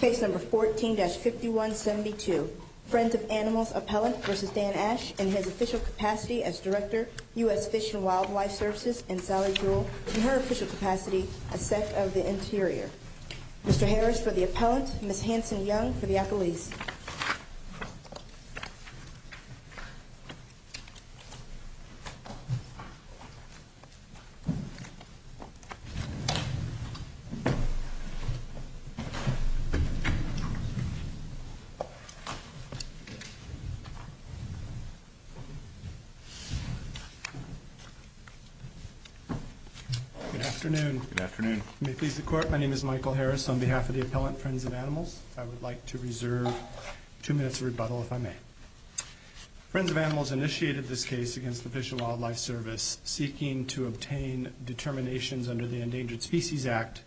Case number 14-5172, Friends of Animals Appellant v. Dan Ashe, in his official capacity as Director, U.S. Fish and Wildlife Services in Sally Jewell, in her official capacity as Sec of the Interior. Mr. Harris for the Appellant, Ms. Hanson-Young for the Appellees. Good afternoon. May it please the Court, my name is Michael Harris. On behalf of the Appellant, Friends of Animals, I would like to reserve two minutes of rebuttal, if I may. Friends of Animals initiated this case against the Fish and Wildlife Service seeking to obtain determinations under the Endangered Species Act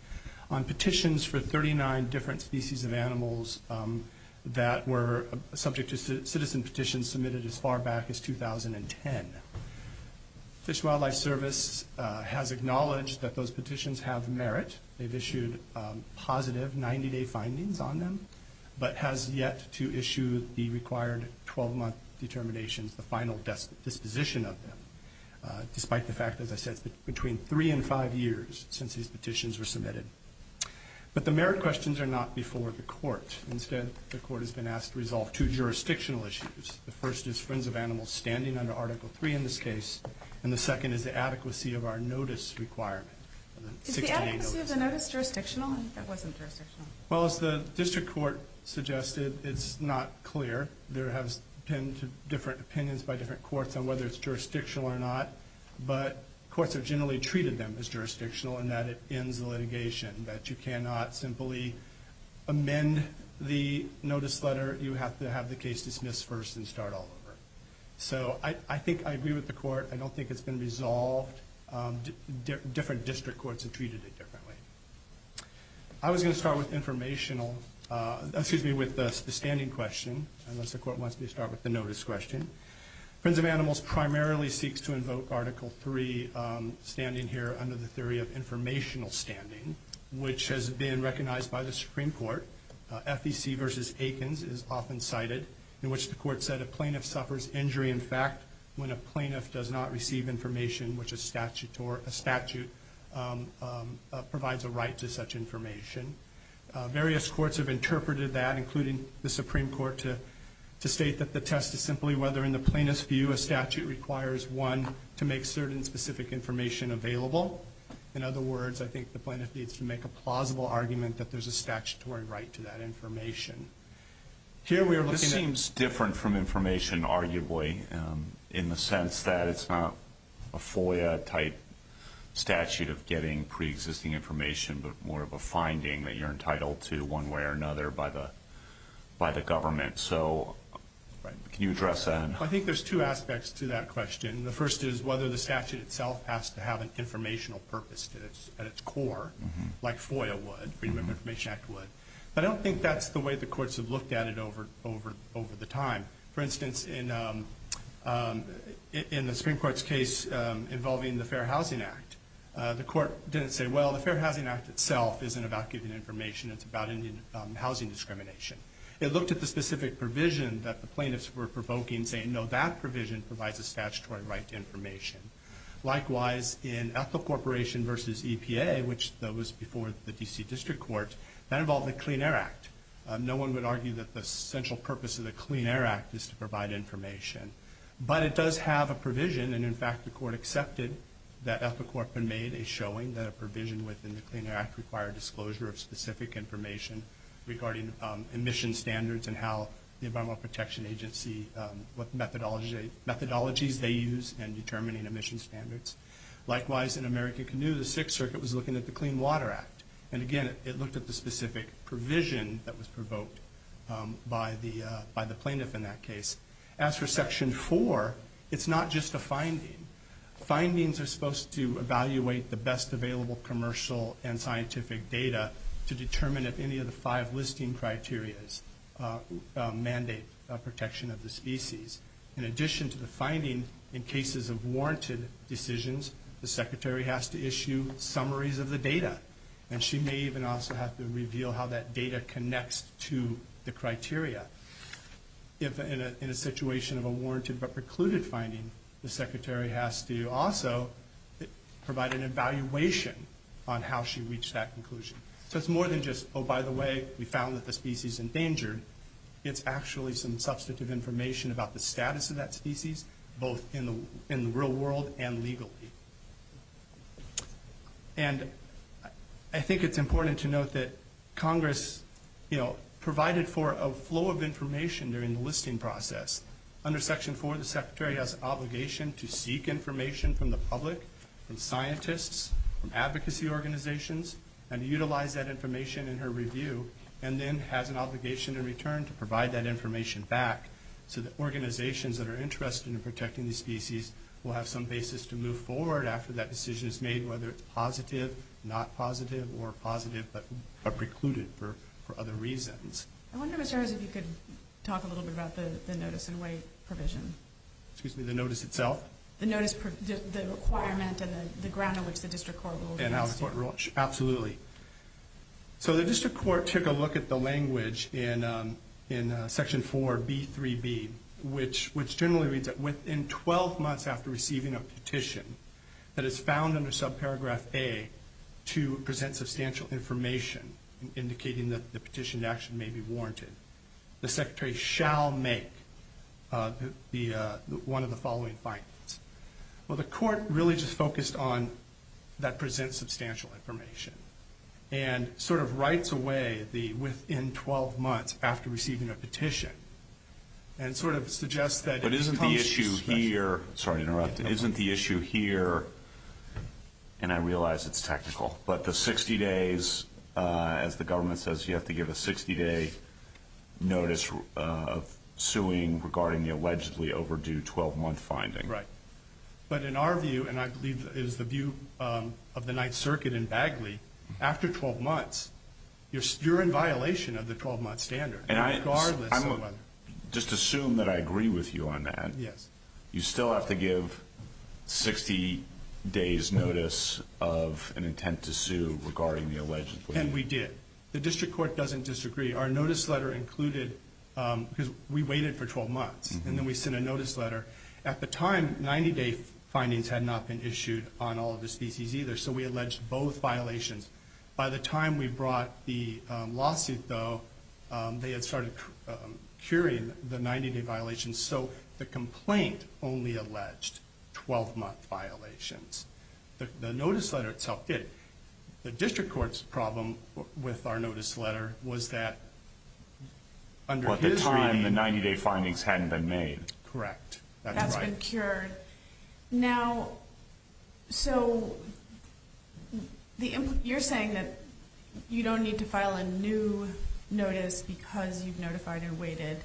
on petitions for 39 different species of animals that were subject to citizen petitions submitted as far back as 2010. The Fish and Wildlife Service has acknowledged that those petitions have merit, they've issued positive 90-day findings on them, but has yet to issue the required 12-month determinations, the final disposition of them, despite the fact, as I said, it's been between three and five years since these petitions were submitted. But the merit questions are not before the Court. Instead, the Court has been asked to resolve two jurisdictional issues. The first is Friends of Animals standing under Article 3 in this case, and the second is the adequacy of our notice requirement. Is the adequacy of the notice jurisdictional? That wasn't jurisdictional. Well, as the District Court suggested, it's not clear. There have been different opinions by different courts on whether it's jurisdictional or not. But courts have generally treated them as jurisdictional in that it ends the litigation, that you cannot simply amend the notice letter. You have to have the case dismissed first and start all over. So I think I agree with the Court. I don't think it's been resolved. Different district courts have treated it differently. I was going to start with the standing question, unless the Court wants me to start with the notice question. Friends of Animals primarily seeks to invoke Article 3, standing here under the theory of informational standing, which has been recognized by the Supreme Court. FEC v. Aikens is often cited, in which the Court said a plaintiff suffers injury in fact when a plaintiff does not receive information which a statute provides a right to such information. Various courts have interpreted that, including the Supreme Court, to state that the test is simply whether in the plaintiff's view a statute requires one to make certain specific information available. In other words, I think the plaintiff needs to make a plausible argument that there's a statutory right to that information. This seems different from information, arguably, in the sense that it's not a FOIA-type statute of getting preexisting information but more of a finding that you're entitled to one way or another by the government. Can you address that? I think there's two aspects to that question. The first is whether the statute itself has to have an informational purpose at its core, like FOIA would, Freedom of Information Act would. I don't think that's the way the courts have looked at it over the time. For instance, in the Supreme Court's case involving the Fair Housing Act, the court didn't say, well, the Fair Housing Act itself isn't about giving information, it's about housing discrimination. It looked at the specific provision that the plaintiffs were provoking, saying, no, that provision provides a statutory right to information. Likewise, in Ethel Corporation v. EPA, which was before the D.C. District Court, that involved the Clean Air Act. No one would argue that the central purpose of the Clean Air Act is to provide information. But it does have a provision, and in fact the court accepted that Ethel Corporation made a showing that a provision within the Clean Air Act required disclosure of specific information regarding emission standards and how the Environmental Protection Agency, what methodologies they use in determining emission standards. Likewise, in American Canoe, the Sixth Circuit was looking at the Clean Water Act. And again, it looked at the specific provision that was provoked by the plaintiff in that case. As for Section 4, it's not just a finding. Findings are supposed to evaluate the best available commercial and scientific data to determine if any of the five listing criteria mandate protection of the species. In addition to the finding, in cases of warranted decisions, the secretary has to issue summaries of the data. And she may even also have to reveal how that data connects to the criteria. If in a situation of a warranted but precluded finding, the secretary has to also provide an evaluation on how she reached that conclusion. So it's more than just, oh, by the way, we found that the species is endangered. It's actually some substantive information about the status of that species, both in the real world and legally. And I think it's important to note that Congress provided for a flow of information during the listing process. Under Section 4, the secretary has an obligation to seek information from the public, from scientists, from advocacy organizations, and utilize that information in her review, and then has an obligation in return to provide that information back so that organizations that are interested in protecting these species will have some basis to move forward after that decision is made, whether it's positive, not positive, or positive but precluded for other reasons. I wonder, Mr. Harris, if you could talk a little bit about the notice-and-wait provision. Excuse me, the notice itself? The notice, the requirement and the ground on which the District Court rules against you. Absolutely. So the District Court took a look at the language in Section 4b3b, which generally reads that within 12 months after receiving a petition that is found under subparagraph A to present substantial information indicating that the petitioned action may be warranted, the secretary shall make one of the following findings. Well, the court really just focused on that presents substantial information and sort of writes away the within 12 months after receiving a petition and sort of suggests that... But isn't the issue here, sorry to interrupt, isn't the issue here, and I realize it's technical, but the 60 days, as the government says, you have to give a 60-day notice of suing regarding the allegedly overdue 12-month finding. Right. But in our view, and I believe it is the view of the Ninth Circuit in Bagley, after 12 months, you're in violation of the 12-month standard, regardless of whether... Just assume that I agree with you on that. Yes. You still have to give 60 days notice of an intent to sue regarding the allegedly... And we did. The District Court doesn't disagree. Our notice letter included... Because we waited for 12 months, and then we sent a notice letter. At the time, 90-day findings had not been issued on all of the species either, so we alleged both violations. By the time we brought the lawsuit, though, they had started curing the 90-day violations, so the complaint only alleged 12-month violations. The notice letter itself did. The District Court's problem with our notice letter was that under his reading... At the time, the 90-day findings hadn't been made. Correct. That's right. That's been cured. Now, so you're saying that you don't need to file a new notice because you've notified and waited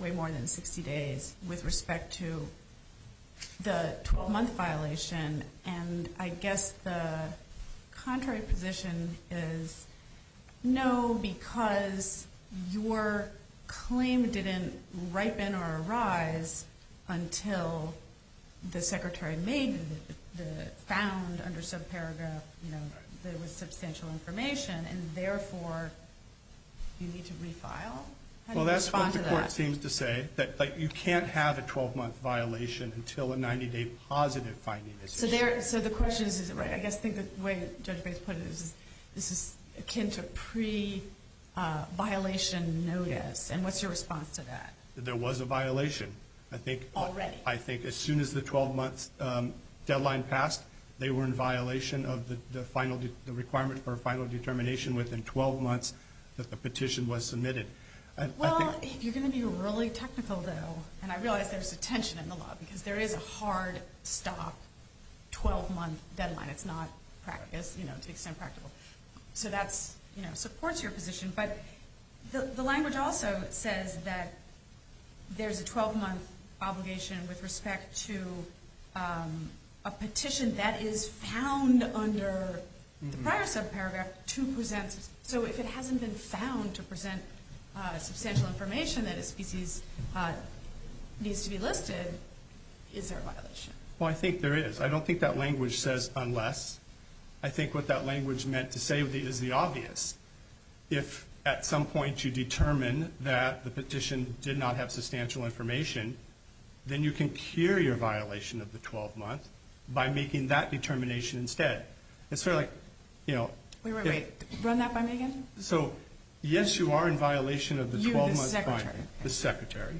way more than 60 days with respect to the 12-month violation, and I guess the contrary position is no, because your claim didn't ripen or arise until the Secretary found under subparagraph there was substantial information, and therefore you need to refile? How do you respond to that? Well, that's what the Court seems to say, that you can't have a 12-month violation until a 90-day positive finding is issued. So the question is, is it right? I guess I think the way Judge Bates put it is this is akin to pre-violation notice, and what's your response to that? There was a violation. Already? I think as soon as the 12-month deadline passed, they were in violation of the requirement for a final determination within 12 months that the petition was submitted. Well, if you're going to be really technical, though, and I realize there's a tension in the law because there is a hard stop 12-month deadline. It's not, to the extent practical. So that supports your position, but the language also says that there's a 12-month obligation with respect to a petition that is found under the prior subparagraph to present. So if it hasn't been found to present substantial information that a species needs to be listed, is there a violation? Well, I think there is. I don't think that language says unless. I think what that language meant to say is the obvious. If at some point you determine that the petition did not have substantial information, then you can cure your violation of the 12-month by making that determination instead. Wait, wait, wait. Run that by me again? So, yes, you are in violation of the 12-month finding. You, the secretary. The secretary,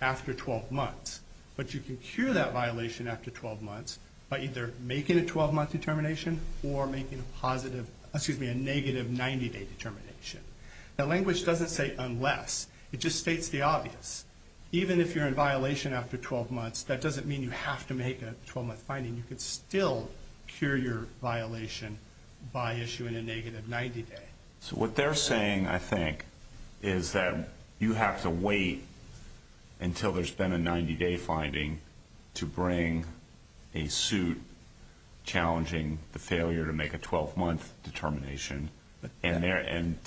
after 12 months. But you can cure that violation after 12 months by either making a 12-month determination or making a negative 90-day determination. That language doesn't say unless. It just states the obvious. Even if you're in violation after 12 months, that doesn't mean you have to make a 12-month finding. You can still cure your violation by issuing a negative 90-day. So what they're saying, I think, is that you have to wait until there's been a 90-day finding to bring a suit challenging the failure to make a 12-month determination, and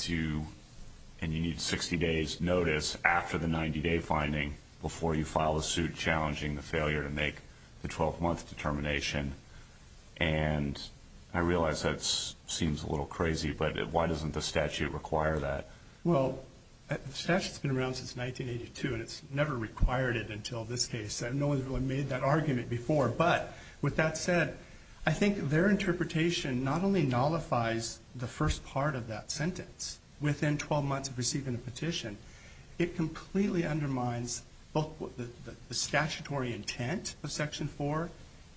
you need 60 days' notice after the 90-day finding before you file a suit challenging the failure to make the 12-month determination. And I realize that seems a little crazy, but why doesn't the statute require that? Well, the statute's been around since 1982, and it's never required it until this case. No one's really made that argument before. But with that said, I think their interpretation not only nullifies the first part of that sentence, within 12 months of receiving a petition, it completely undermines both the statutory intent of Section 4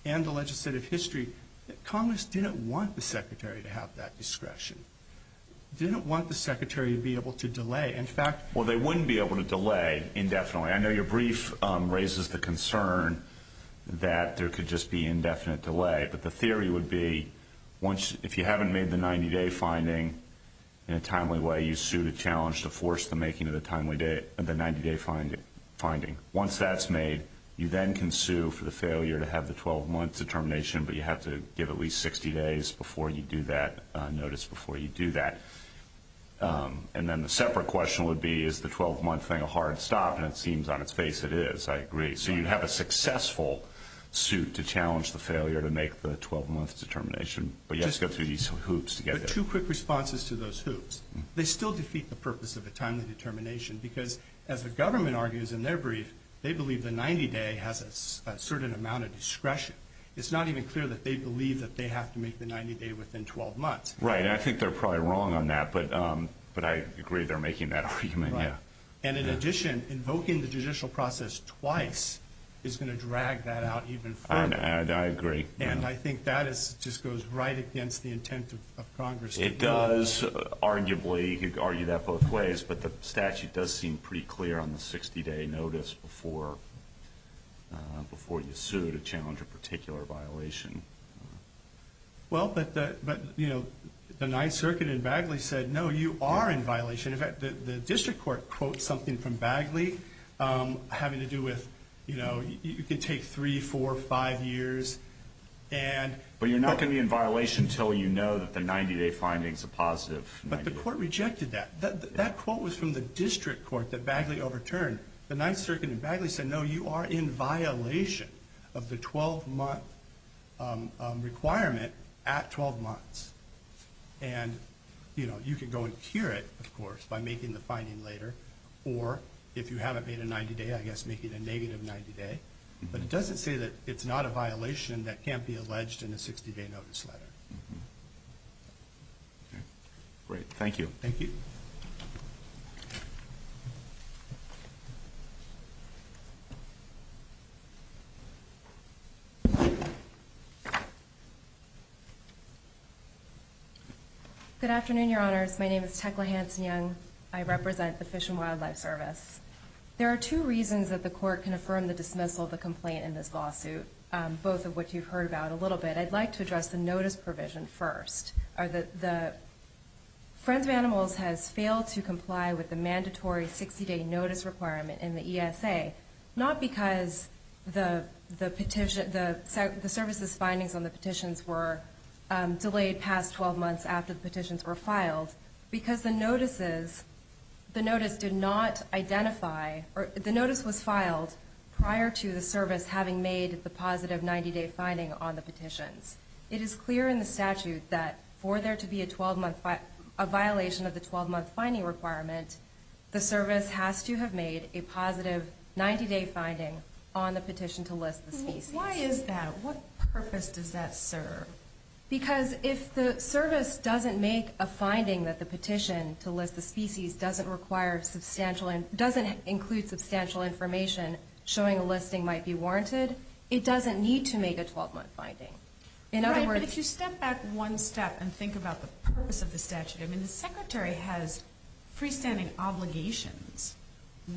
and the legislative history. Congress didn't want the Secretary to have that discretion. They didn't want the Secretary to be able to delay. In fact, they wouldn't be able to delay indefinitely. I know your brief raises the concern that there could just be indefinite delay, but the theory would be if you haven't made the 90-day finding in a timely way, you sue to challenge to force the making of the 90-day finding. Once that's made, you then can sue for the failure to have the 12-month determination, but you have to give at least 60 days' notice before you do that. And then the separate question would be, is the 12-month thing a hard stop? And it seems, on its face, it is. I agree. So you'd have a successful suit to challenge the failure to make the 12-month determination, but you have to go through these hoops to get there. But two quick responses to those hoops. They still defeat the purpose of a timely determination because, as the government argues in their brief, they believe the 90-day has a certain amount of discretion. It's not even clear that they believe that they have to make the 90-day within 12 months. Right, and I think they're probably wrong on that, but I agree they're making that argument, yeah. And in addition, invoking the judicial process twice is going to drag that out even further. I agree. And I think that just goes right against the intent of Congress to do that. It does, arguably. You could argue that both ways. But the statute does seem pretty clear on the 60-day notice before you sue to challenge a particular violation. Well, but the Ninth Circuit in Bagley said, no, you are in violation. In fact, the district court quotes something from Bagley having to do with, you know, you can take three, four, five years. But you're not going to be in violation until you know that the 90-day finding is a positive 90-day. But the court rejected that. That quote was from the district court that Bagley overturned. The Ninth Circuit in Bagley said, no, you are in violation of the 12-month requirement at 12 months. And, you know, you can go and cure it, of course, by making the finding later. Or if you haven't made a 90-day, I guess make it a negative 90-day. But it doesn't say that it's not a violation that can't be alleged in a 60-day notice letter. Great. Thank you. Thank you. Good afternoon, Your Honors. My name is Tecla Hanson-Young. I represent the Fish and Wildlife Service. There are two reasons that the court can affirm the dismissal of the complaint in this lawsuit, both of which you've heard about a little bit. I'd like to address the notice provision first. The Friends of Animals has failed to comply with the mandatory 60-day notice requirement in the ESA, not because the service's findings on the petitions were delayed past 12 months after the petitions were filed, because the notice was filed prior to the service having made the positive 90-day finding on the petitions. It is clear in the statute that for there to be a violation of the 12-month finding requirement, the service has to have made a positive 90-day finding on the petition to list the species. Why is that? What purpose does that serve? Because if the service doesn't make a finding that the petition to list the species doesn't include substantial information showing a listing might be warranted, it doesn't need to make a 12-month finding. Right, but if you step back one step and think about the purpose of the statute, I mean, the Secretary has freestanding obligations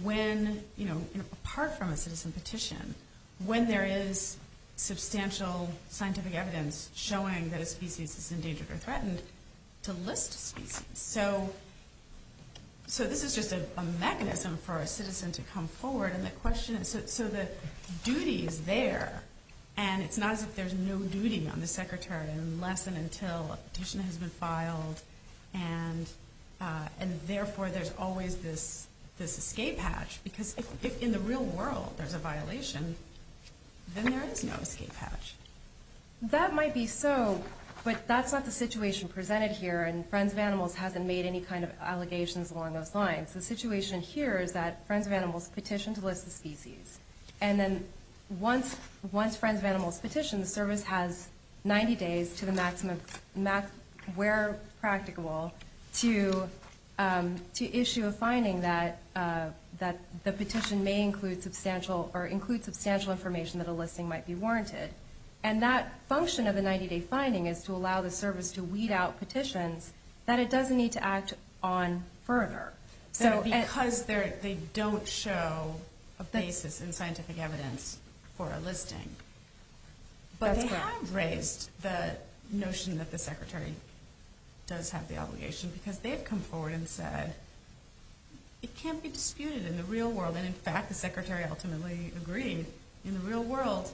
when, you know, apart from a citizen petition, when there is substantial scientific evidence showing that a species is endangered or threatened, to list a species. So this is just a mechanism for a citizen to come forward, and the question is, so the duty is there, and it's not as if there's no duty on the Secretary unless and until a petition has been filed, and therefore there's always this escape hatch, because if in the real world there's a violation, then there is no escape hatch. That might be so, but that's not the situation presented here, and Friends of Animals hasn't made any kind of allegations along those lines. The situation here is that Friends of Animals petitioned to list the species, and then once Friends of Animals petitioned, the service has 90 days to the maximum where practicable to issue a finding that the petition may include substantial information that a listing might be warranted, and that function of the 90-day finding is to allow the service to weed out petitions that it doesn't need to act on further. So because they don't show a basis in scientific evidence for a listing, but they have raised the notion that the Secretary does have the obligation, because they've come forward and said it can't be disputed in the real world, and in fact the Secretary ultimately agreed in the real world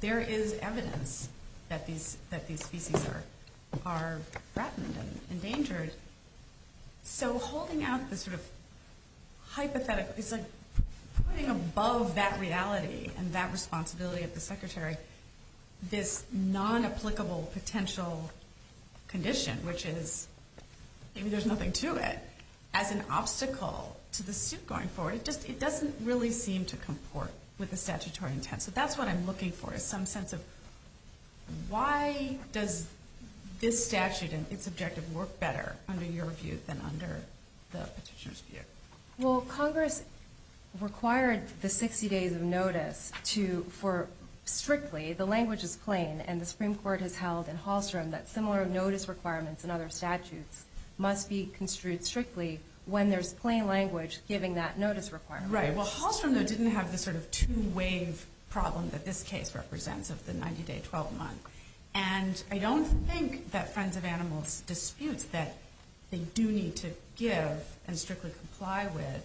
there is evidence that these species are threatened and endangered. So holding out this sort of hypothetical, it's like putting above that reality and that responsibility of the Secretary this non-applicable potential condition, which is maybe there's nothing to it, as an obstacle to the suit going forward. It doesn't really seem to comport with the statutory intent. So that's what I'm looking for, is some sense of why does this statute and its objective work better under your view than under the petitioner's view? Well, Congress required the 60 days of notice to, for strictly, the language is plain, and the Supreme Court has held in Hallstrom that similar notice requirements in other statutes must be construed strictly when there's plain language giving that notice requirement. Right. Well, Hallstrom, though, didn't have the sort of two-wave problem that this case represents of the 90-day, 12-month. And I don't think that Friends of Animals disputes that they do need to give and strictly comply with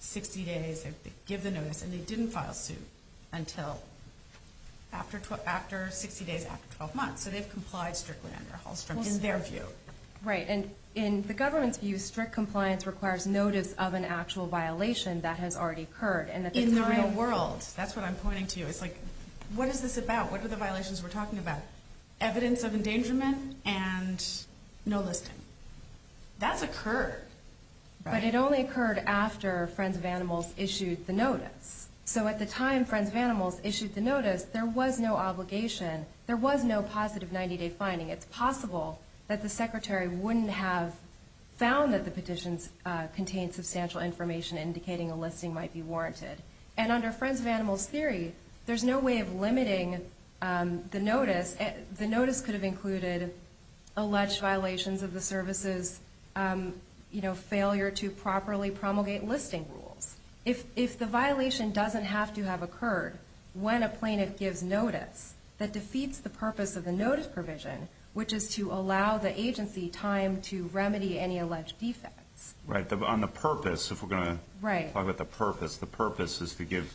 60 days, give the notice, and they didn't file suit until after 60 days, after 12 months. So they've complied strictly under Hallstrom in their view. Right. And in the government's view, strict compliance requires notice of an actual violation that has already occurred. In the real world, that's what I'm pointing to. It's like, what is this about? What are the violations we're talking about? Evidence of endangerment and no listing. That's occurred. But it only occurred after Friends of Animals issued the notice. So at the time Friends of Animals issued the notice, there was no obligation. There was no positive 90-day finding. It's possible that the secretary wouldn't have found that the petitions contained substantial information indicating a listing might be warranted. And under Friends of Animals' theory, there's no way of limiting the notice. The notice could have included alleged violations of the services, you know, failure to properly promulgate listing rules. If the violation doesn't have to have occurred when a plaintiff gives notice, that defeats the purpose of the notice provision, which is to allow the agency time to remedy any alleged defects. Right. On the purpose, if we're going to talk about the purpose, the purpose is to give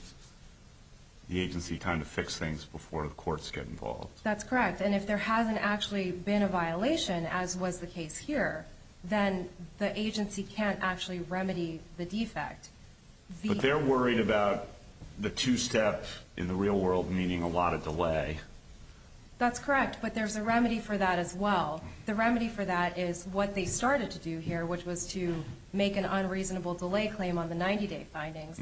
the agency time to fix things before the courts get involved. That's correct. And if there hasn't actually been a violation, as was the case here, then the agency can't actually remedy the defect. But they're worried about the two-step in the real world meaning a lot of delay. That's correct. But there's a remedy for that as well. The remedy for that is what they started to do here, which was to make an unreasonable delay claim on the 90-day findings.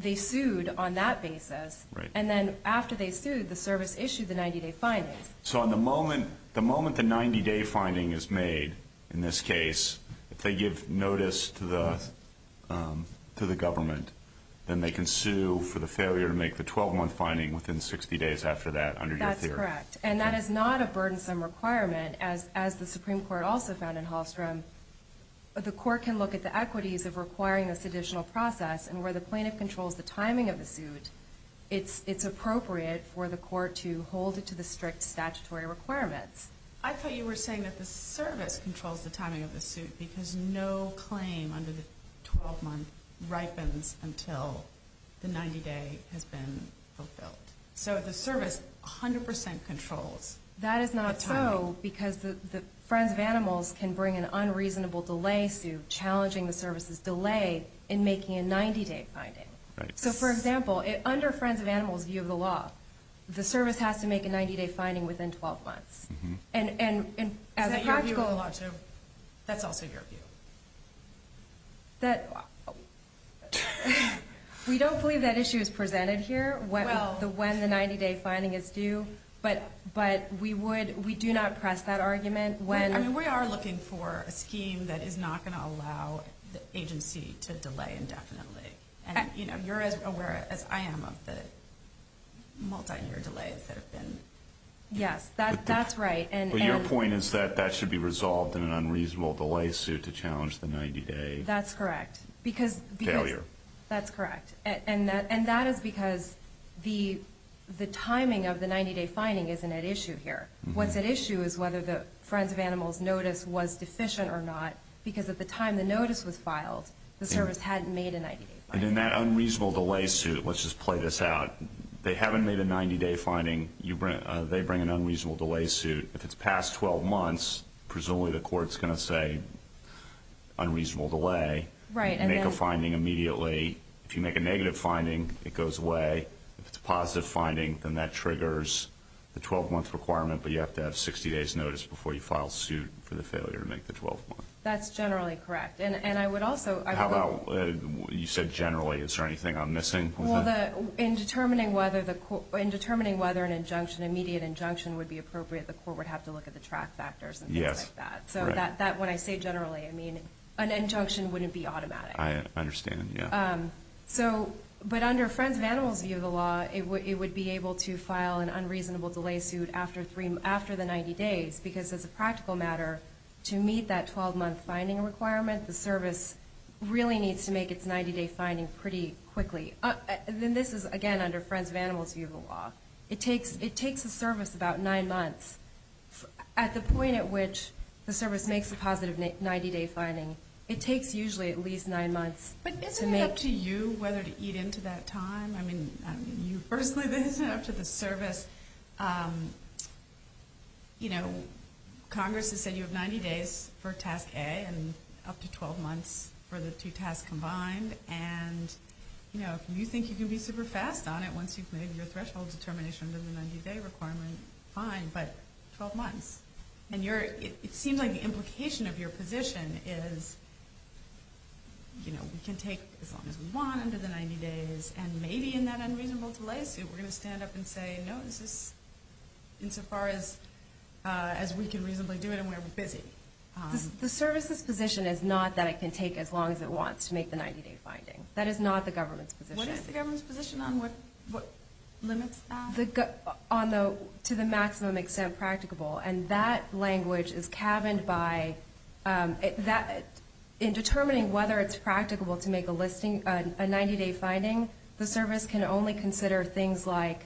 They sued on that basis. Right. And then after they sued, the service issued the 90-day findings. So the moment the 90-day finding is made, in this case, if they give notice to the government, then they can sue for the failure to make the 12-month finding within 60 days after that under your theory. That's correct. And that is not a burdensome requirement, as the Supreme Court also found in Hallstrom. The court can look at the equities of requiring this additional process. And where the plaintiff controls the timing of the suit, it's appropriate for the court to hold it to the strict statutory requirements. I thought you were saying that the service controls the timing of the suit because no claim under the 12-month ripens until the 90-day has been fulfilled. So the service 100% controls the timing. No, because the Friends of Animals can bring an unreasonable delay suit challenging the service's delay in making a 90-day finding. Right. So, for example, under Friends of Animals' view of the law, the service has to make a 90-day finding within 12 months. Is that your view of the law, too? That's also your view. We don't believe that issue is presented here, when the 90-day finding is due. But we do not press that argument. We are looking for a scheme that is not going to allow the agency to delay indefinitely. And you're as aware as I am of the multi-year delays that have been. Yes, that's right. But your point is that that should be resolved in an unreasonable delay suit to challenge the 90-day failure. That's correct. And that is because the timing of the 90-day finding isn't at issue here. What's at issue is whether the Friends of Animals' notice was deficient or not. Because at the time the notice was filed, the service hadn't made a 90-day finding. And in that unreasonable delay suit, let's just play this out. They haven't made a 90-day finding. They bring an unreasonable delay suit. If it's past 12 months, presumably the court's going to say unreasonable delay. Right. Make a finding immediately. If you make a negative finding, it goes away. If it's a positive finding, then that triggers the 12-month requirement. But you have to have 60 days' notice before you file suit for the failure to make the 12-month. That's generally correct. How about you said generally. Is there anything I'm missing? In determining whether an immediate injunction would be appropriate, the court would have to look at the track factors and things like that. So that when I say generally, I mean an injunction wouldn't be automatic. I understand, yeah. But under Friends of Animals' view of the law, it would be able to file an unreasonable delay suit after the 90 days. Because as a practical matter, to meet that 12-month finding requirement, the service really needs to make its 90-day finding pretty quickly. And this is, again, under Friends of Animals' view of the law. It takes the service about nine months. At the point at which the service makes a positive 90-day finding, it takes usually at least nine months. But isn't it up to you whether to eat into that time? I mean, personally, isn't it up to the service? Congress has said you have 90 days for Task A and up to 12 months for the two tasks combined. And if you think you can be super fast on it once you've made your threshold determination under the 90-day requirement, fine, but 12 months. And it seems like the implication of your position is, you know, we can take as long as we want under the 90 days, and maybe in that unreasonable delay suit, we're going to stand up and say, no, this is insofar as we can reasonably do it and we're busy. The service's position is not that it can take as long as it wants to make the 90-day finding. That is not the government's position. What is the government's position on what limits are? To the maximum extent practicable. And that language is caverned by in determining whether it's practicable to make a listing, a 90-day finding, the service can only consider things like,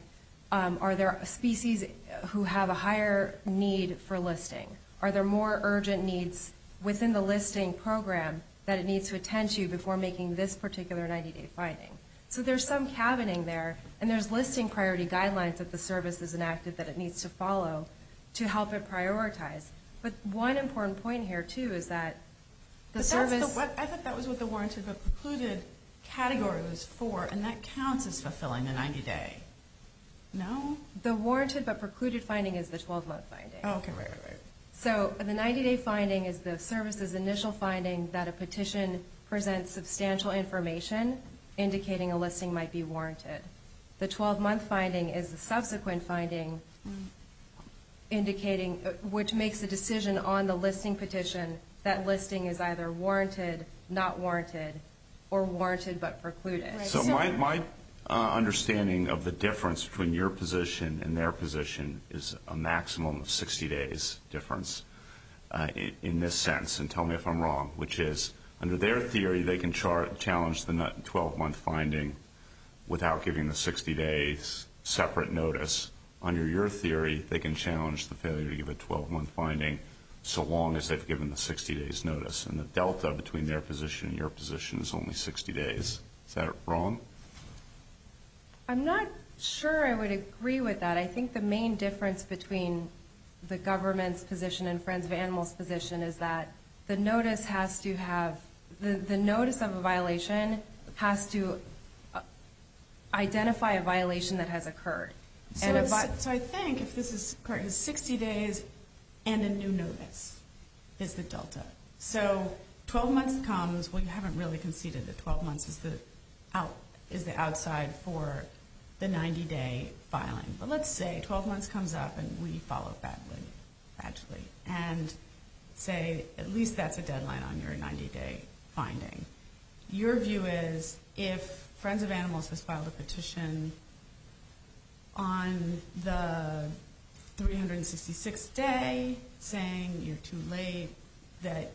are there species who have a higher need for listing? Are there more urgent needs within the listing program that it needs to attend to before making this particular 90-day finding? So there's some caverning there, and there's listing priority guidelines that the service has enacted that it needs to follow to help it prioritize. But one important point here, too, is that the service – I thought that was what the warranted but precluded category was for, and that counts as fulfilling the 90-day. No? The warranted but precluded finding is the 12-month finding. Okay, right, right, right. So the 90-day finding is the service's initial finding that a petition presents substantial information indicating a listing might be warranted. The 12-month finding is the subsequent finding, which makes a decision on the listing petition that listing is either warranted, not warranted, or warranted but precluded. So my understanding of the difference between your position and their position is a maximum of 60 days difference in this sense. And tell me if I'm wrong, which is, under their theory, they can challenge the 12-month finding without giving the 60 days separate notice. Under your theory, they can challenge the failure to give a 12-month finding so long as they've given the 60 days notice. And the delta between their position and your position is only 60 days. Is that wrong? I'm not sure I would agree with that. I think the main difference between the government's position and Friends of Animals' position is that the notice of a violation has to identify a violation that has occurred. So I think if this is correct, 60 days and a new notice is the delta. So 12 months comes. Well, you haven't really conceded that 12 months is the outside for the 90-day filing. But let's say 12 months comes up and we follow badly, and say at least that's a deadline on your 90-day finding. Your view is if Friends of Animals has filed a petition on the 366th day, saying you're too late, that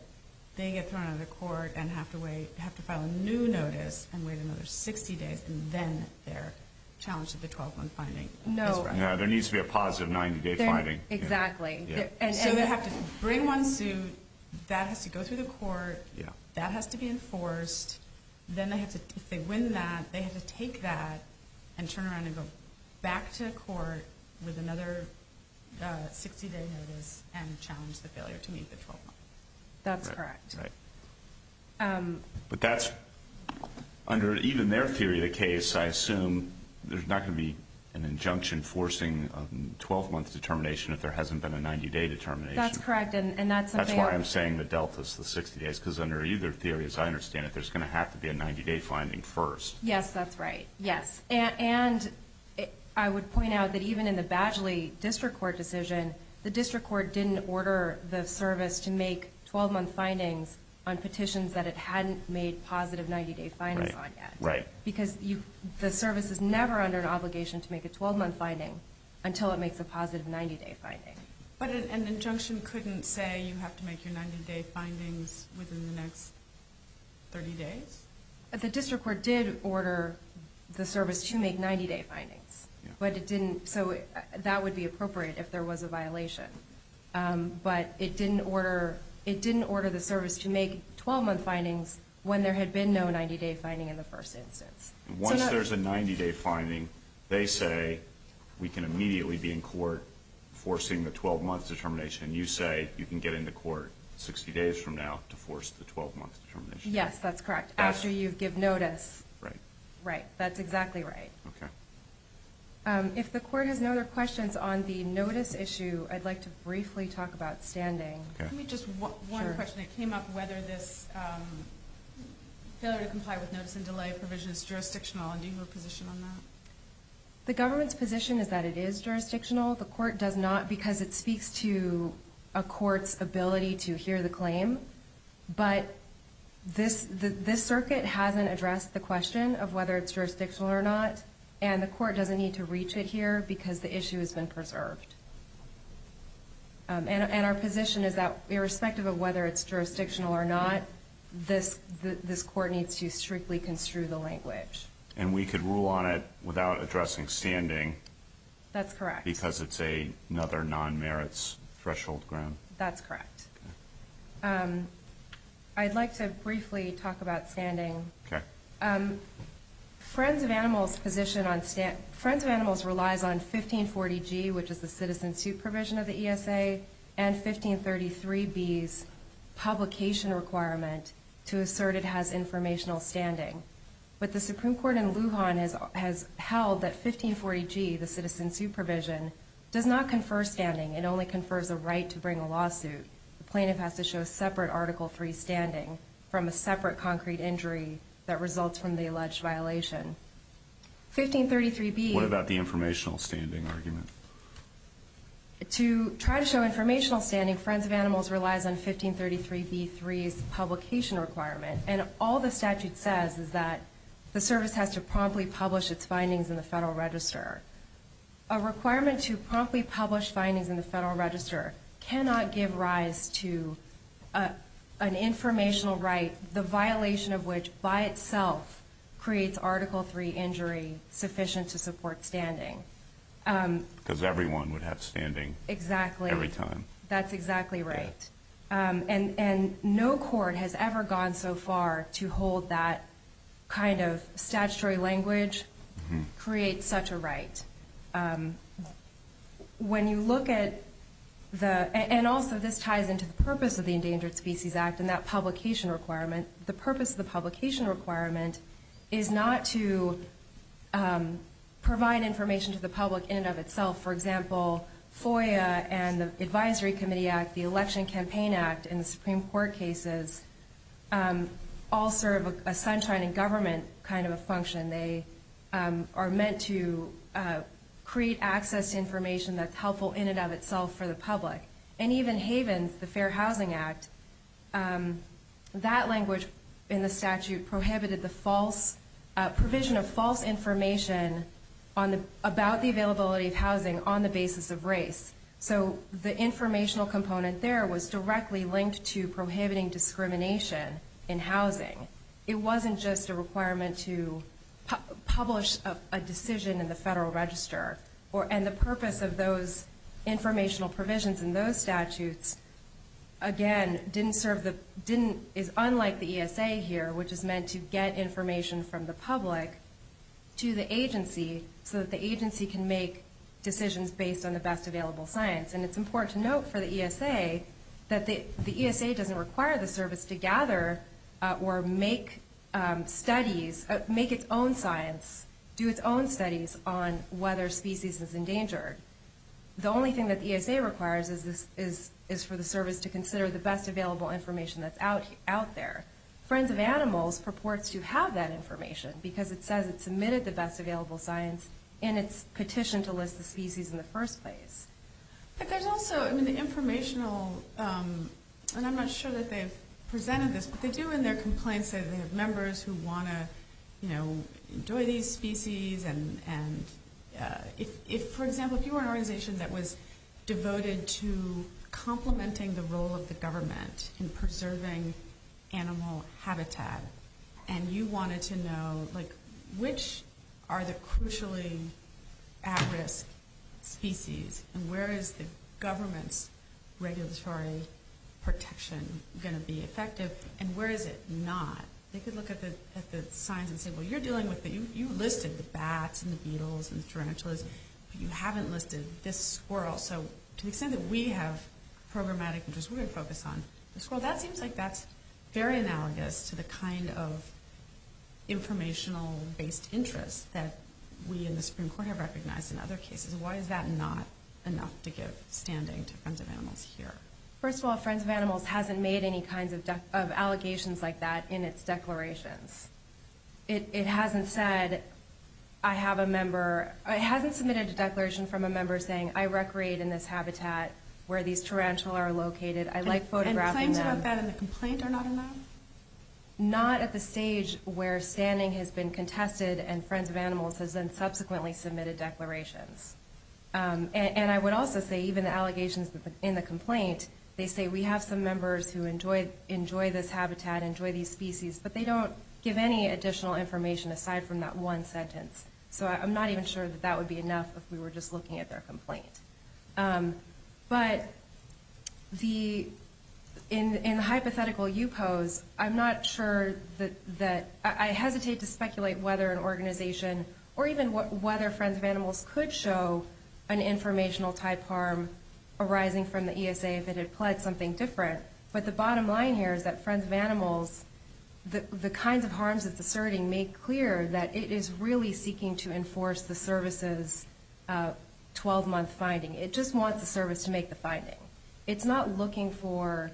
they get thrown out of the court and have to file a new notice and wait another 60 days, and then they're challenged with the 12-month finding. No. There needs to be a positive 90-day finding. Exactly. So they have to bring one suit. That has to go through the court. That has to be enforced. Then if they win that, they have to take that and turn around and go back to court with another 60-day notice and challenge the failure to meet the 12-month. That's correct. But that's, under even their theory of the case, I assume there's not going to be an injunction forcing a 12-month determination if there hasn't been a 90-day determination. That's correct. That's why I'm saying the Deltas, the 60 days, because under either theory, as I understand it, there's going to have to be a 90-day finding first. Yes, that's right. Yes. And I would point out that even in the Badgley District Court decision, the district court didn't order the service to make 12-month findings on petitions that it hadn't made positive 90-day findings on yet. Right. Because the service is never under an obligation to make a 12-month finding until it makes a positive 90-day finding. But an injunction couldn't say you have to make your 90-day findings within the next 30 days? The district court did order the service to make 90-day findings. So that would be appropriate if there was a violation. But it didn't order the service to make 12-month findings when there had been no 90-day finding in the first instance. Once there's a 90-day finding, they say we can immediately be in court forcing the 12-month determination, and you say you can get into court 60 days from now to force the 12-month determination. Yes, that's correct. After you give notice. Right. That's exactly right. Okay. If the court has no other questions on the notice issue, I'd like to briefly talk about standing. Let me just one question that came up, whether this failure to comply with notice and delay provision is jurisdictional, and do you have a position on that? The government's position is that it is jurisdictional. The court does not because it speaks to a court's ability to hear the claim. But this circuit hasn't addressed the question of whether it's jurisdictional or not, and the court doesn't need to reach it here because the issue has been preserved. And our position is that irrespective of whether it's jurisdictional or not, this court needs to strictly construe the language. And we could rule on it without addressing standing. That's correct. Because it's another non-merits threshold ground. That's correct. I'd like to briefly talk about standing. Okay. Friends of Animals relies on 1540G, which is the citizen supervision of the ESA, and 1533B's publication requirement to assert it has informational standing. But the Supreme Court in Lujan has held that 1540G, the citizen supervision, does not confer standing. It only confers a right to bring a lawsuit. The plaintiff has to show separate Article III standing from a separate concrete injury that results from the alleged violation. 1533B. What about the informational standing argument? To try to show informational standing, Friends of Animals relies on 1533B3's publication requirement, and all the statute says is that the service has to promptly publish its findings in the Federal Register. A requirement to promptly publish findings in the Federal Register cannot give rise to an informational right, the violation of which by itself creates Article III injury sufficient to support standing. Because everyone would have standing. Exactly. Every time. That's exactly right. And no court has ever gone so far to hold that kind of statutory language creates such a right. When you look at the – and also this ties into the purpose of the Endangered Species Act and that publication requirement. The purpose of the publication requirement is not to provide information to the public in and of itself. For example, FOIA and the Advisory Committee Act, the Election Campaign Act, and the Supreme Court cases all serve a sunshine in government kind of a function. They are meant to create access to information that's helpful in and of itself for the public. And even Havens, the Fair Housing Act, that language in the statute prohibited the provision of false information about the availability of housing on the basis of race. So the informational component there was directly linked to prohibiting discrimination in housing. It wasn't just a requirement to publish a decision in the Federal Register. And the purpose of those informational provisions in those statutes, again, is unlike the ESA here, which is meant to get information from the public to the agency so that the agency can make decisions based on the best available science. And it's important to note for the ESA that the ESA doesn't require the service to gather or make studies, make its own science, do its own studies on whether a species is endangered. The only thing that the ESA requires is for the service to consider the best available information that's out there. Friends of Animals purports to have that information because it says it submitted the best available science in its petition to list the species in the first place. But there's also, I mean, the informational, and I'm not sure that they've presented this, but they do in their complaints say that they have members who want to, you know, enjoy these species. And if, for example, if you were an organization that was devoted to complementing the role of the government in preserving animal habitat, and you wanted to know, like, which are the crucially at-risk species, and where is the government's regulatory protection going to be effective, and where is it not? They could look at the science and say, well, you're dealing with the, you listed the bats and the beetles and the tarantulas, but you haven't listed this squirrel. So to the extent that we have programmatic interests we're going to focus on the squirrel, that seems like that's very analogous to the kind of informational-based interests that we in the Supreme Court have recognized in other cases. Why is that not enough to give standing to Friends of Animals here? First of all, Friends of Animals hasn't made any kinds of allegations like that in its declarations. It hasn't said, I have a member, it hasn't submitted a declaration from a member saying, I recreate in this habitat where these tarantula are located. I like photographing them. And claims about that in the complaint are not enough? Not at the stage where standing has been contested and Friends of Animals has then subsequently submitted declarations. And I would also say even the allegations in the complaint, they say we have some members who enjoy this habitat, enjoy these species, but they don't give any additional information aside from that one sentence. So I'm not even sure that that would be enough if we were just looking at their complaint. But in the hypothetical you pose, I'm not sure that, I hesitate to speculate whether an organization or even whether Friends of Animals could show an informational-type harm arising from the ESA if it had pledged something different. But the bottom line here is that Friends of Animals, the kinds of harms it's asserting, make clear that it is really seeking to enforce the service's 12-month finding. It just wants the service to make the finding. It's not looking for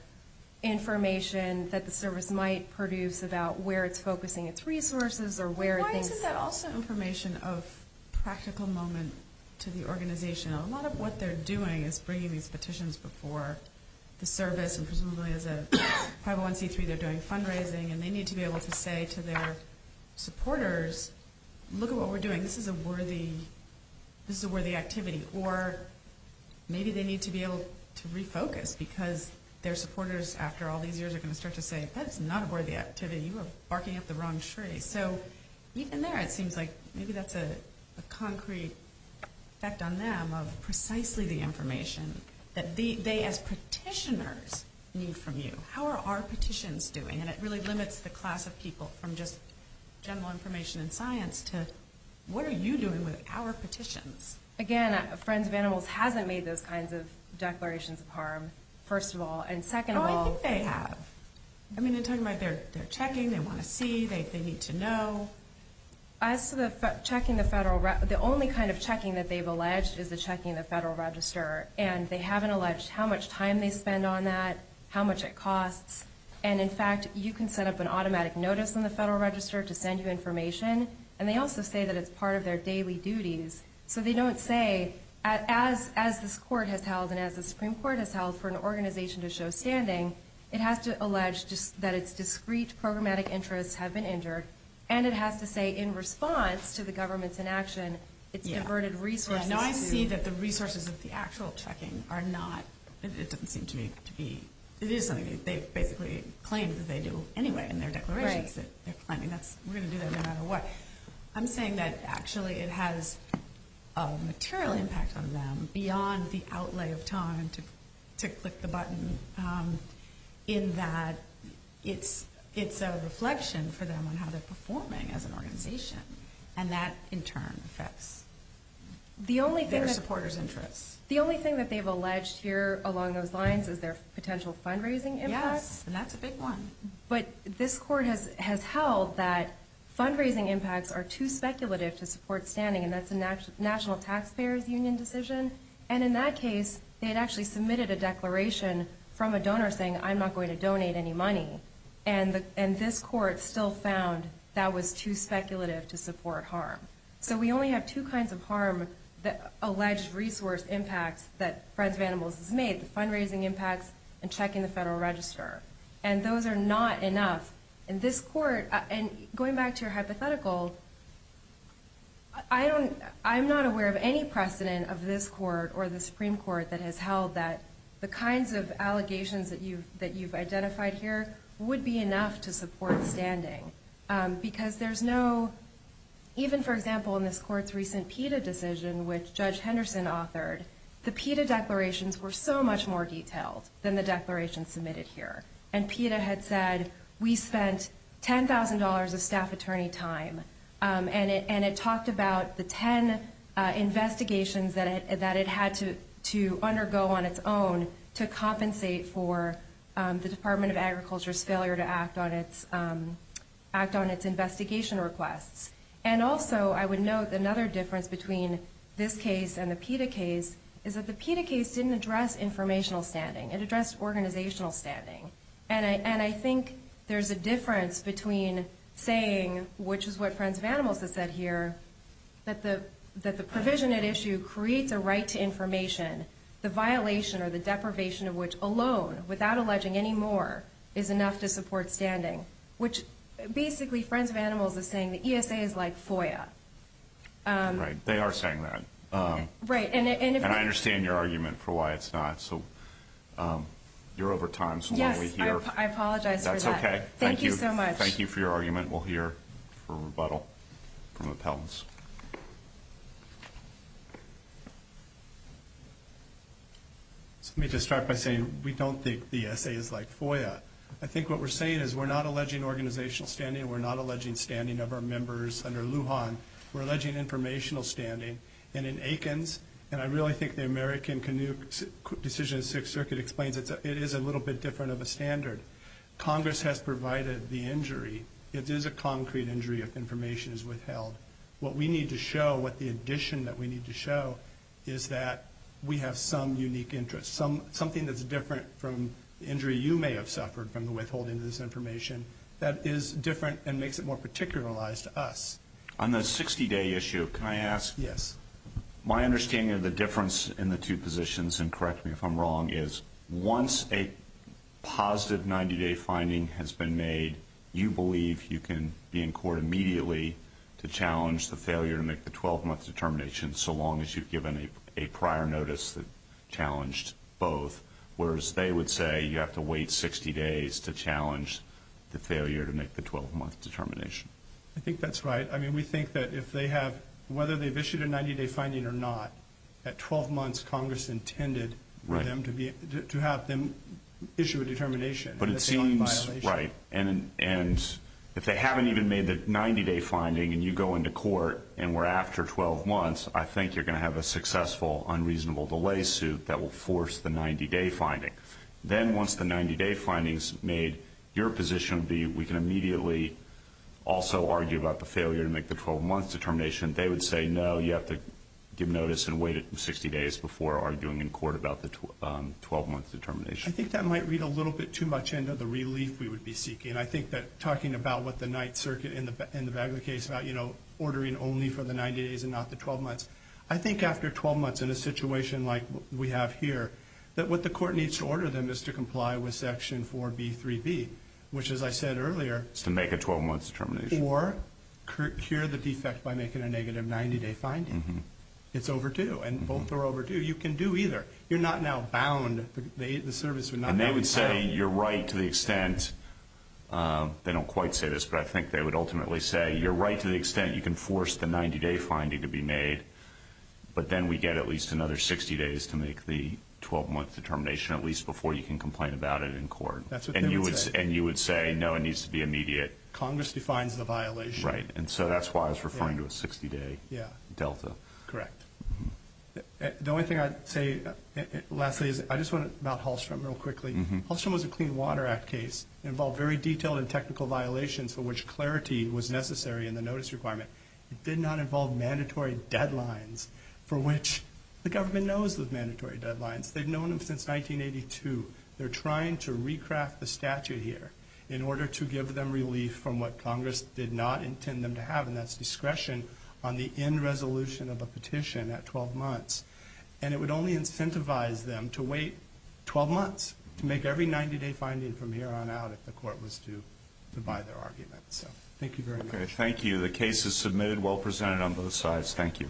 information that the service might produce about where it's focusing its resources or where it thinks. Why isn't that also information of practical moment to the organization? A lot of what they're doing is bringing these petitions before the service, and presumably as a 501c3 they're doing fundraising. And they need to be able to say to their supporters, look at what we're doing. This is a worthy activity. Or maybe they need to be able to refocus because their supporters after all these years are going to start to say, that's not a worthy activity. You are barking up the wrong tree. So even there it seems like maybe that's a concrete effect on them of precisely the information that they as petitioners need from you. How are our petitions doing? And it really limits the class of people from just general information and science to what are you doing with our petitions? Again, Friends of Animals hasn't made those kinds of declarations of harm, first of all. And second of all, they have. I mean, they're talking about their checking. They want to see. They need to know. As to the checking, the only kind of checking that they've alleged is the checking the Federal Register. And they haven't alleged how much time they spend on that, how much it costs. And, in fact, you can set up an automatic notice in the Federal Register to send you information. And they also say that it's part of their daily duties. So they don't say, as this Court has held and as the Supreme Court has held for an organization to show standing, it has to allege that its discrete programmatic interests have been injured. And it has to say in response to the government's inaction, it's inverted resources. Now, I see that the resources of the actual checking are not – it doesn't seem to be – it is something they basically claim that they do anyway in their declarations. Right. We're going to do that no matter what. I'm saying that, actually, it has a material impact on them beyond the outlay of time to click the button, in that it's a reflection for them on how they're performing as an organization. And that, in turn, affects their supporters' interests. The only thing that they've alleged here along those lines is their potential fundraising impact. Yes, and that's a big one. But this Court has held that fundraising impacts are too speculative to support standing, and that's a National Taxpayers Union decision. And in that case, they had actually submitted a declaration from a donor saying, I'm not going to donate any money. And this Court still found that was too speculative to support harm. So we only have two kinds of harm, the alleged resource impacts that Friends of Animals has made, the fundraising impacts and checking the Federal Register. And those are not enough. And this Court, and going back to your hypothetical, I'm not aware of any precedent of this Court or the Supreme Court that has held that the kinds of allegations that you've identified here would be enough to support standing. Because there's no, even, for example, in this Court's recent PETA decision, which Judge Henderson authored, the PETA declarations were so much more detailed than the declarations submitted here. And PETA had said, we spent $10,000 of staff attorney time, and it talked about the 10 investigations that it had to undergo on its own to compensate for the Department of Agriculture's failure to act on its investigation requests. And also, I would note another difference between this case and the PETA case, is that the PETA case didn't address informational standing. It addressed organizational standing. And I think there's a difference between saying, which is what Friends of Animals has said here, that the provision at issue creates a right to information, the violation or the deprivation of which alone, without alleging any more, is enough to support standing. Which, basically, Friends of Animals is saying the ESA is like FOIA. Right, they are saying that. Right. And I understand your argument for why it's not. So you're over time, so why don't we hear. Yes, I apologize for that. That's okay. Thank you so much. Thank you for your argument. We'll hear for rebuttal from appellants. Let me just start by saying we don't think the ESA is like FOIA. I think what we're saying is we're not alleging organizational standing. We're not alleging standing of our members under Lujan. We're alleging informational standing. And in Akins, and I really think the American Canoe Decision in the Sixth Circuit explains it, it is a little bit different of a standard. Congress has provided the injury. It is a concrete injury if information is withheld. What we need to show, what the addition that we need to show, is that we have some unique interest, something that's different from the injury you may have suffered from the withholding of this information, that is different and makes it more particularized to us. On the 60-day issue, can I ask? Yes. My understanding of the difference in the two positions, and correct me if I'm wrong, is once a positive 90-day finding has been made, you believe you can be in court immediately to challenge the failure to make the 12-month determination so long as you've given a prior notice that challenged both, whereas they would say you have to wait 60 days to challenge the failure to make the 12-month determination. I think that's right. I mean, we think that if they have, whether they've issued a 90-day finding or not, at 12 months Congress intended to have them issue a determination. But it seems, right, and if they haven't even made the 90-day finding and you go into court and we're after 12 months, I think you're going to have a successful unreasonable delay suit that will force the 90-day finding. Then once the 90-day finding is made, your position would be we can immediately also argue about the failure to make the 12-month determination. They would say no, you have to give notice and wait 60 days before arguing in court about the 12-month determination. I think that might read a little bit too much into the relief we would be seeking. I think that talking about what the Ninth Circuit in the Bagley case, ordering only for the 90 days and not the 12 months, I think after 12 months in a situation like we have here, that what the court needs to order them is to comply with Section 4B3B, which, as I said earlier, or cure the defect by making a negative 90-day finding. It's overdue, and both are overdue. You can do either. You're not now bound. And they would say you're right to the extent, they don't quite say this, but I think they would ultimately say you're right to the extent you can force the 90-day finding to be made, but then we get at least another 60 days to make the 12-month determination, at least before you can complain about it in court. That's what they would say. And you would say no, it needs to be immediate. Congress defines the violation. Right, and so that's why I was referring to a 60-day delta. Correct. The only thing I'd say, lastly, is I just want to talk about Hallstrom real quickly. Hallstrom was a Clean Water Act case. It involved very detailed and technical violations for which clarity was necessary in the notice requirement. It did not involve mandatory deadlines for which the government knows those mandatory deadlines. They've known them since 1982. They're trying to recraft the statute here in order to give them relief from what Congress did not intend them to have, and that's discretion on the end resolution of a petition at 12 months. And it would only incentivize them to wait 12 months to make every 90-day finding from here on out if the court was to buy their argument. So thank you very much. Okay, thank you. The case is submitted. Well presented on both sides. Thank you.